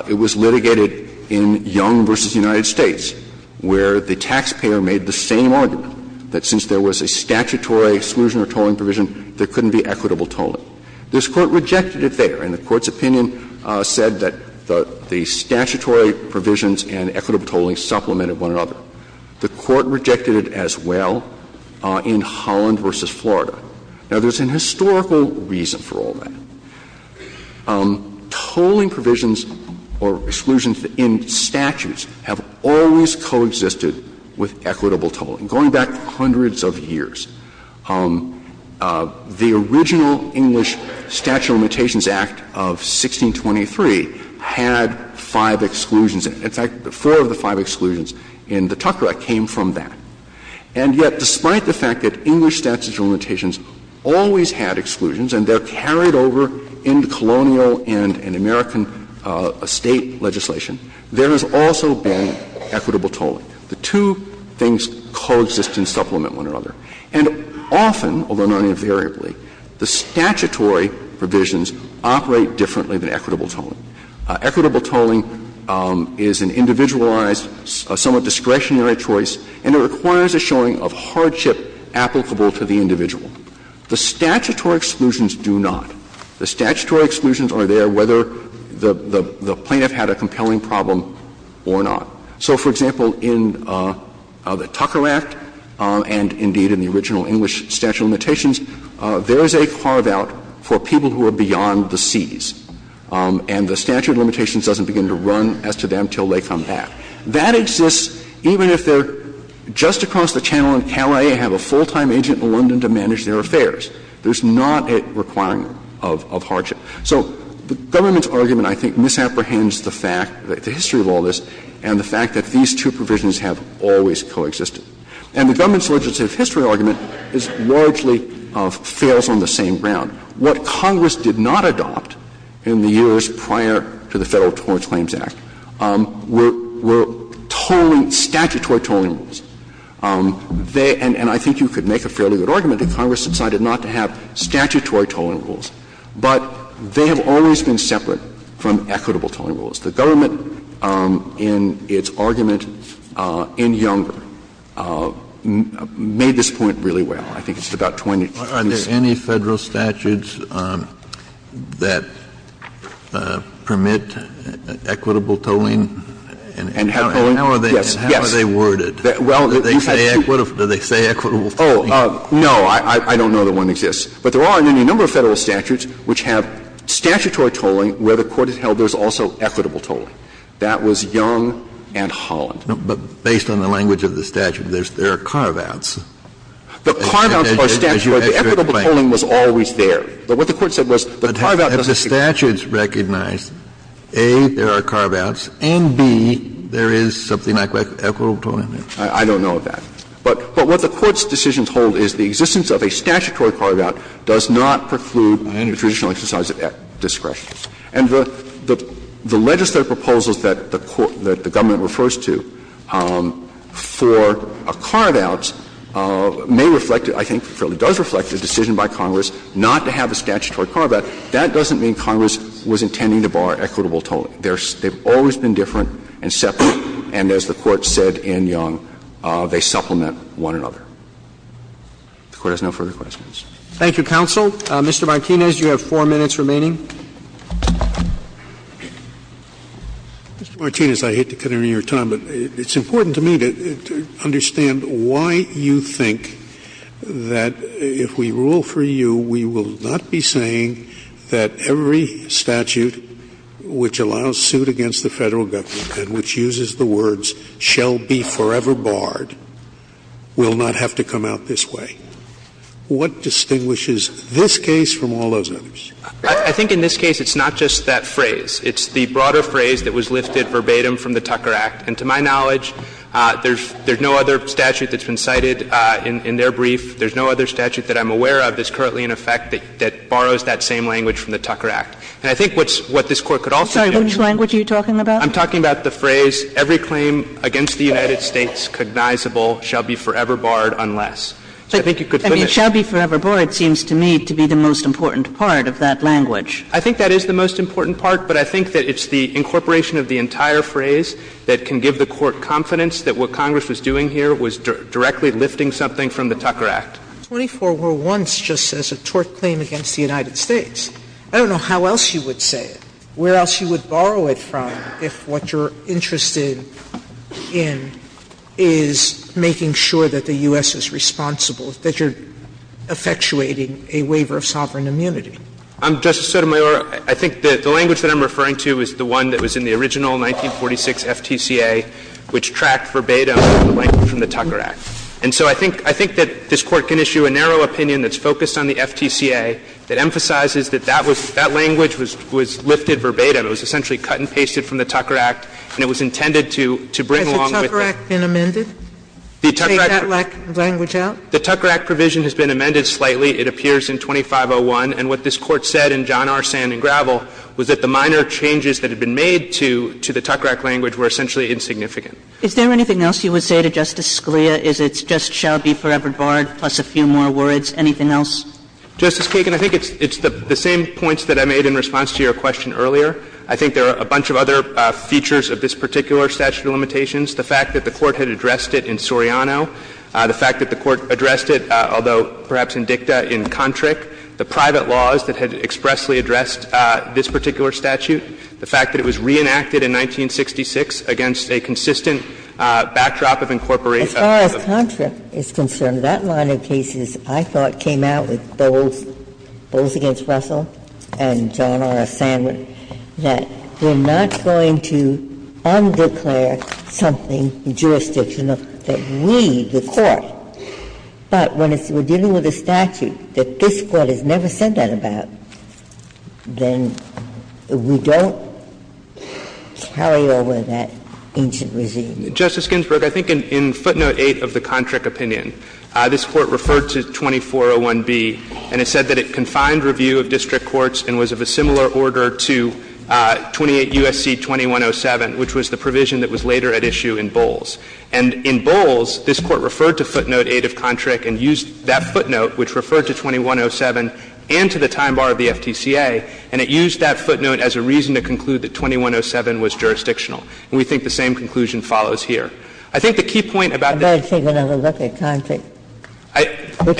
It was litigated in Young v. United States, where the taxpayer made the same argument that since there was a statutory exclusion or tolling provision, there couldn't be equitable tolling. This Court rejected it there, and the Court's opinion said that the statutory provisions and equitable tolling supplemented one another. The Court rejected it as well in Holland v. Florida. Now, there's an historical reason for all that. Tolling provisions or exclusions in statutes have always coexisted with equitable tolling, going back hundreds of years. The original English Statute of Limitations Act of 1623 had five exclusions and, in fact, four of the five exclusions in the Tucker Act came from that. And yet, despite the fact that English Statute of Limitations always had exclusions and they're carried over into colonial and American State legislation, there has also been equitable tolling. The two things coexist and supplement one another. And often, although not invariably, the statutory provisions operate differently than equitable tolling. Equitable tolling is an individualized, somewhat discretionary choice, and it requires a showing of hardship applicable to the individual. The statutory exclusions do not. The statutory exclusions are there whether the plaintiff had a compelling problem or not. So, for example, in the Tucker Act and, indeed, in the original English Statute of Limitations, there is a carve-out for people who are beyond the seas. And the statute of limitations doesn't begin to run as to them until they come back. That exists even if they're just across the channel in Calais and have a full-time agent in London to manage their affairs. There's not a requirement of hardship. So the government's argument, I think, misapprehends the fact, the history of all this, and the fact that these two provisions have always coexisted. And the government's legislative history argument largely fails on the same ground. What Congress did not adopt in the years prior to the Federal Torrents Claims Act were tolling, statutory tolling rules. They — and I think you could make a fairly good argument that Congress decided not to have statutory tolling rules, but they have always been separate from equitable tolling rules. The government, in its argument in Younger, made this point really well. I think it's about 20 to 26. Kennedy, are there any Federal statutes that permit equitable tolling? And how are they worded? Do they say equitable tolling? Oh, no. I don't know that one exists. But there are a number of Federal statutes which have statutory tolling where the Court has held there's also equitable tolling. That was Young and Holland. But based on the language of the statute, there are carve-outs. The carve-outs are statutory. The equitable tolling was always there. But what the Court said was the carve-out doesn't exist. But have the statutes recognized, A, there are carve-outs, and, B, there is something like equitable tolling there? I don't know of that. But what the Court's decisions hold is the existence of a statutory carve-out does not preclude the traditional exercise of discretion. And the legislative proposals that the government refers to for a carve-out may be reflected, I think it does reflect the decision by Congress not to have a statutory carve-out. That doesn't mean Congress was intending to bar equitable tolling. They've always been different and separate. And as the Court said in Young, they supplement one another. The Court has no further questions. Roberts. Thank you, counsel. Mr. Martinez, you have four minutes remaining. Mr. Martinez, I hate to cut any of your time, but it's important to me to understand why you think that if we rule for you, we will not be saying that every statute which allows suit against the Federal government and which uses the words shall be forever barred will not have to come out this way. What distinguishes this case from all those others? I think in this case, it's not just that phrase. It's the broader phrase that was lifted verbatim from the Tucker Act. And to my knowledge, there's no other statute that's been cited in their brief, there's no other statute that I'm aware of that's currently in effect that borrows that same language from the Tucker Act. And I think what this Court could also do is to say that I'm talking about the phrase every claim against the United States cognizable shall be forever barred unless. So I think you could put it that way. I mean, shall be forever barred seems to me to be the most important part of that language. I think that is the most important part, but I think that it's the incorporation of the entire phrase that can give the Court confidence that what Congress was doing here was directly lifting something from the Tucker Act. Sotomayor 24 were once just as a tort claim against the United States. I don't know how else you would say it, where else you would borrow it from if what you're interested in is making sure that the U.S. is responsible, that you're effectuating a waiver of sovereign immunity. Justice Sotomayor, I think that the language that I'm referring to is the one that was in the original 1946 FTCA, which tracked verbatim the language from the Tucker Act. And so I think that this Court can issue a narrow opinion that's focused on the FTCA that emphasizes that that was, that language was lifted verbatim. It was essentially cut and pasted from the Tucker Act, and it was intended to bring along with it. Sotomayor Has the Tucker Act been amended? Take that language out? The Tucker Act provision has been amended slightly. It appears in 2501. And what this Court said in John R. Sand and Gravel was that the minor changes that had been made to the Tucker Act language were essentially insignificant. Is there anything else you would say to Justice Scalia? Is it just shall be forever borrowed, plus a few more words? Anything else? Justice Kagan, I think it's the same points that I made in response to your question earlier. I think there are a bunch of other features of this particular statute of limitations. The fact that the Court had addressed it in Soriano, the fact that the Court addressed it, although perhaps in dicta, in Contric, the private laws that had expressly addressed this particular statute, the fact that it was reenacted in 1966 against a consistent backdrop of incorporation. As far as Contric is concerned, that line of cases, I thought, came out with Bowles against Russell and John R. Sand, that we're not going to undeclare something in jurisdiction that we, the Court, but when we're dealing with a statute that this Court has said that about, then we don't carry over that ancient regime. Justice Ginsburg, I think in footnote 8 of the Contric opinion, this Court referred to 2401b, and it said that it confined review of district courts and was of a similar order to 28 U.S.C. 2107, which was the provision that was later at issue in Bowles. And in Bowles, this Court referred to footnote 8 of Contric and used that footnote, which referred to 2107, and to the time bar of the FTCA, and it used that footnote as a reason to conclude that 2107 was jurisdictional. And we think the same conclusion follows here. I think the key point about that is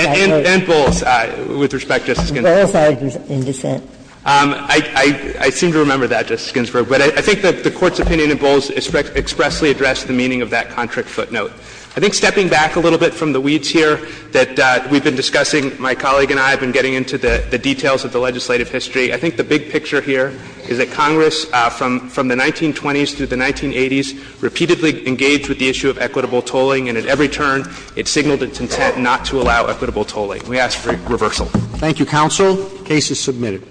that in Bowles, with respect, Justice Ginsburg. I seem to remember that, Justice Ginsburg, but I think the Court's opinion in Bowles expressly addressed the meaning of that Contric footnote. I think stepping back a little bit from the weeds here that we've been discussing, my colleague and I have been getting into the details of the legislative history. I think the big picture here is that Congress, from the 1920s through the 1980s, repeatedly engaged with the issue of equitable tolling, and at every turn, it signaled its intent not to allow equitable tolling. We ask for reversal. Thank you, counsel. The case is submitted.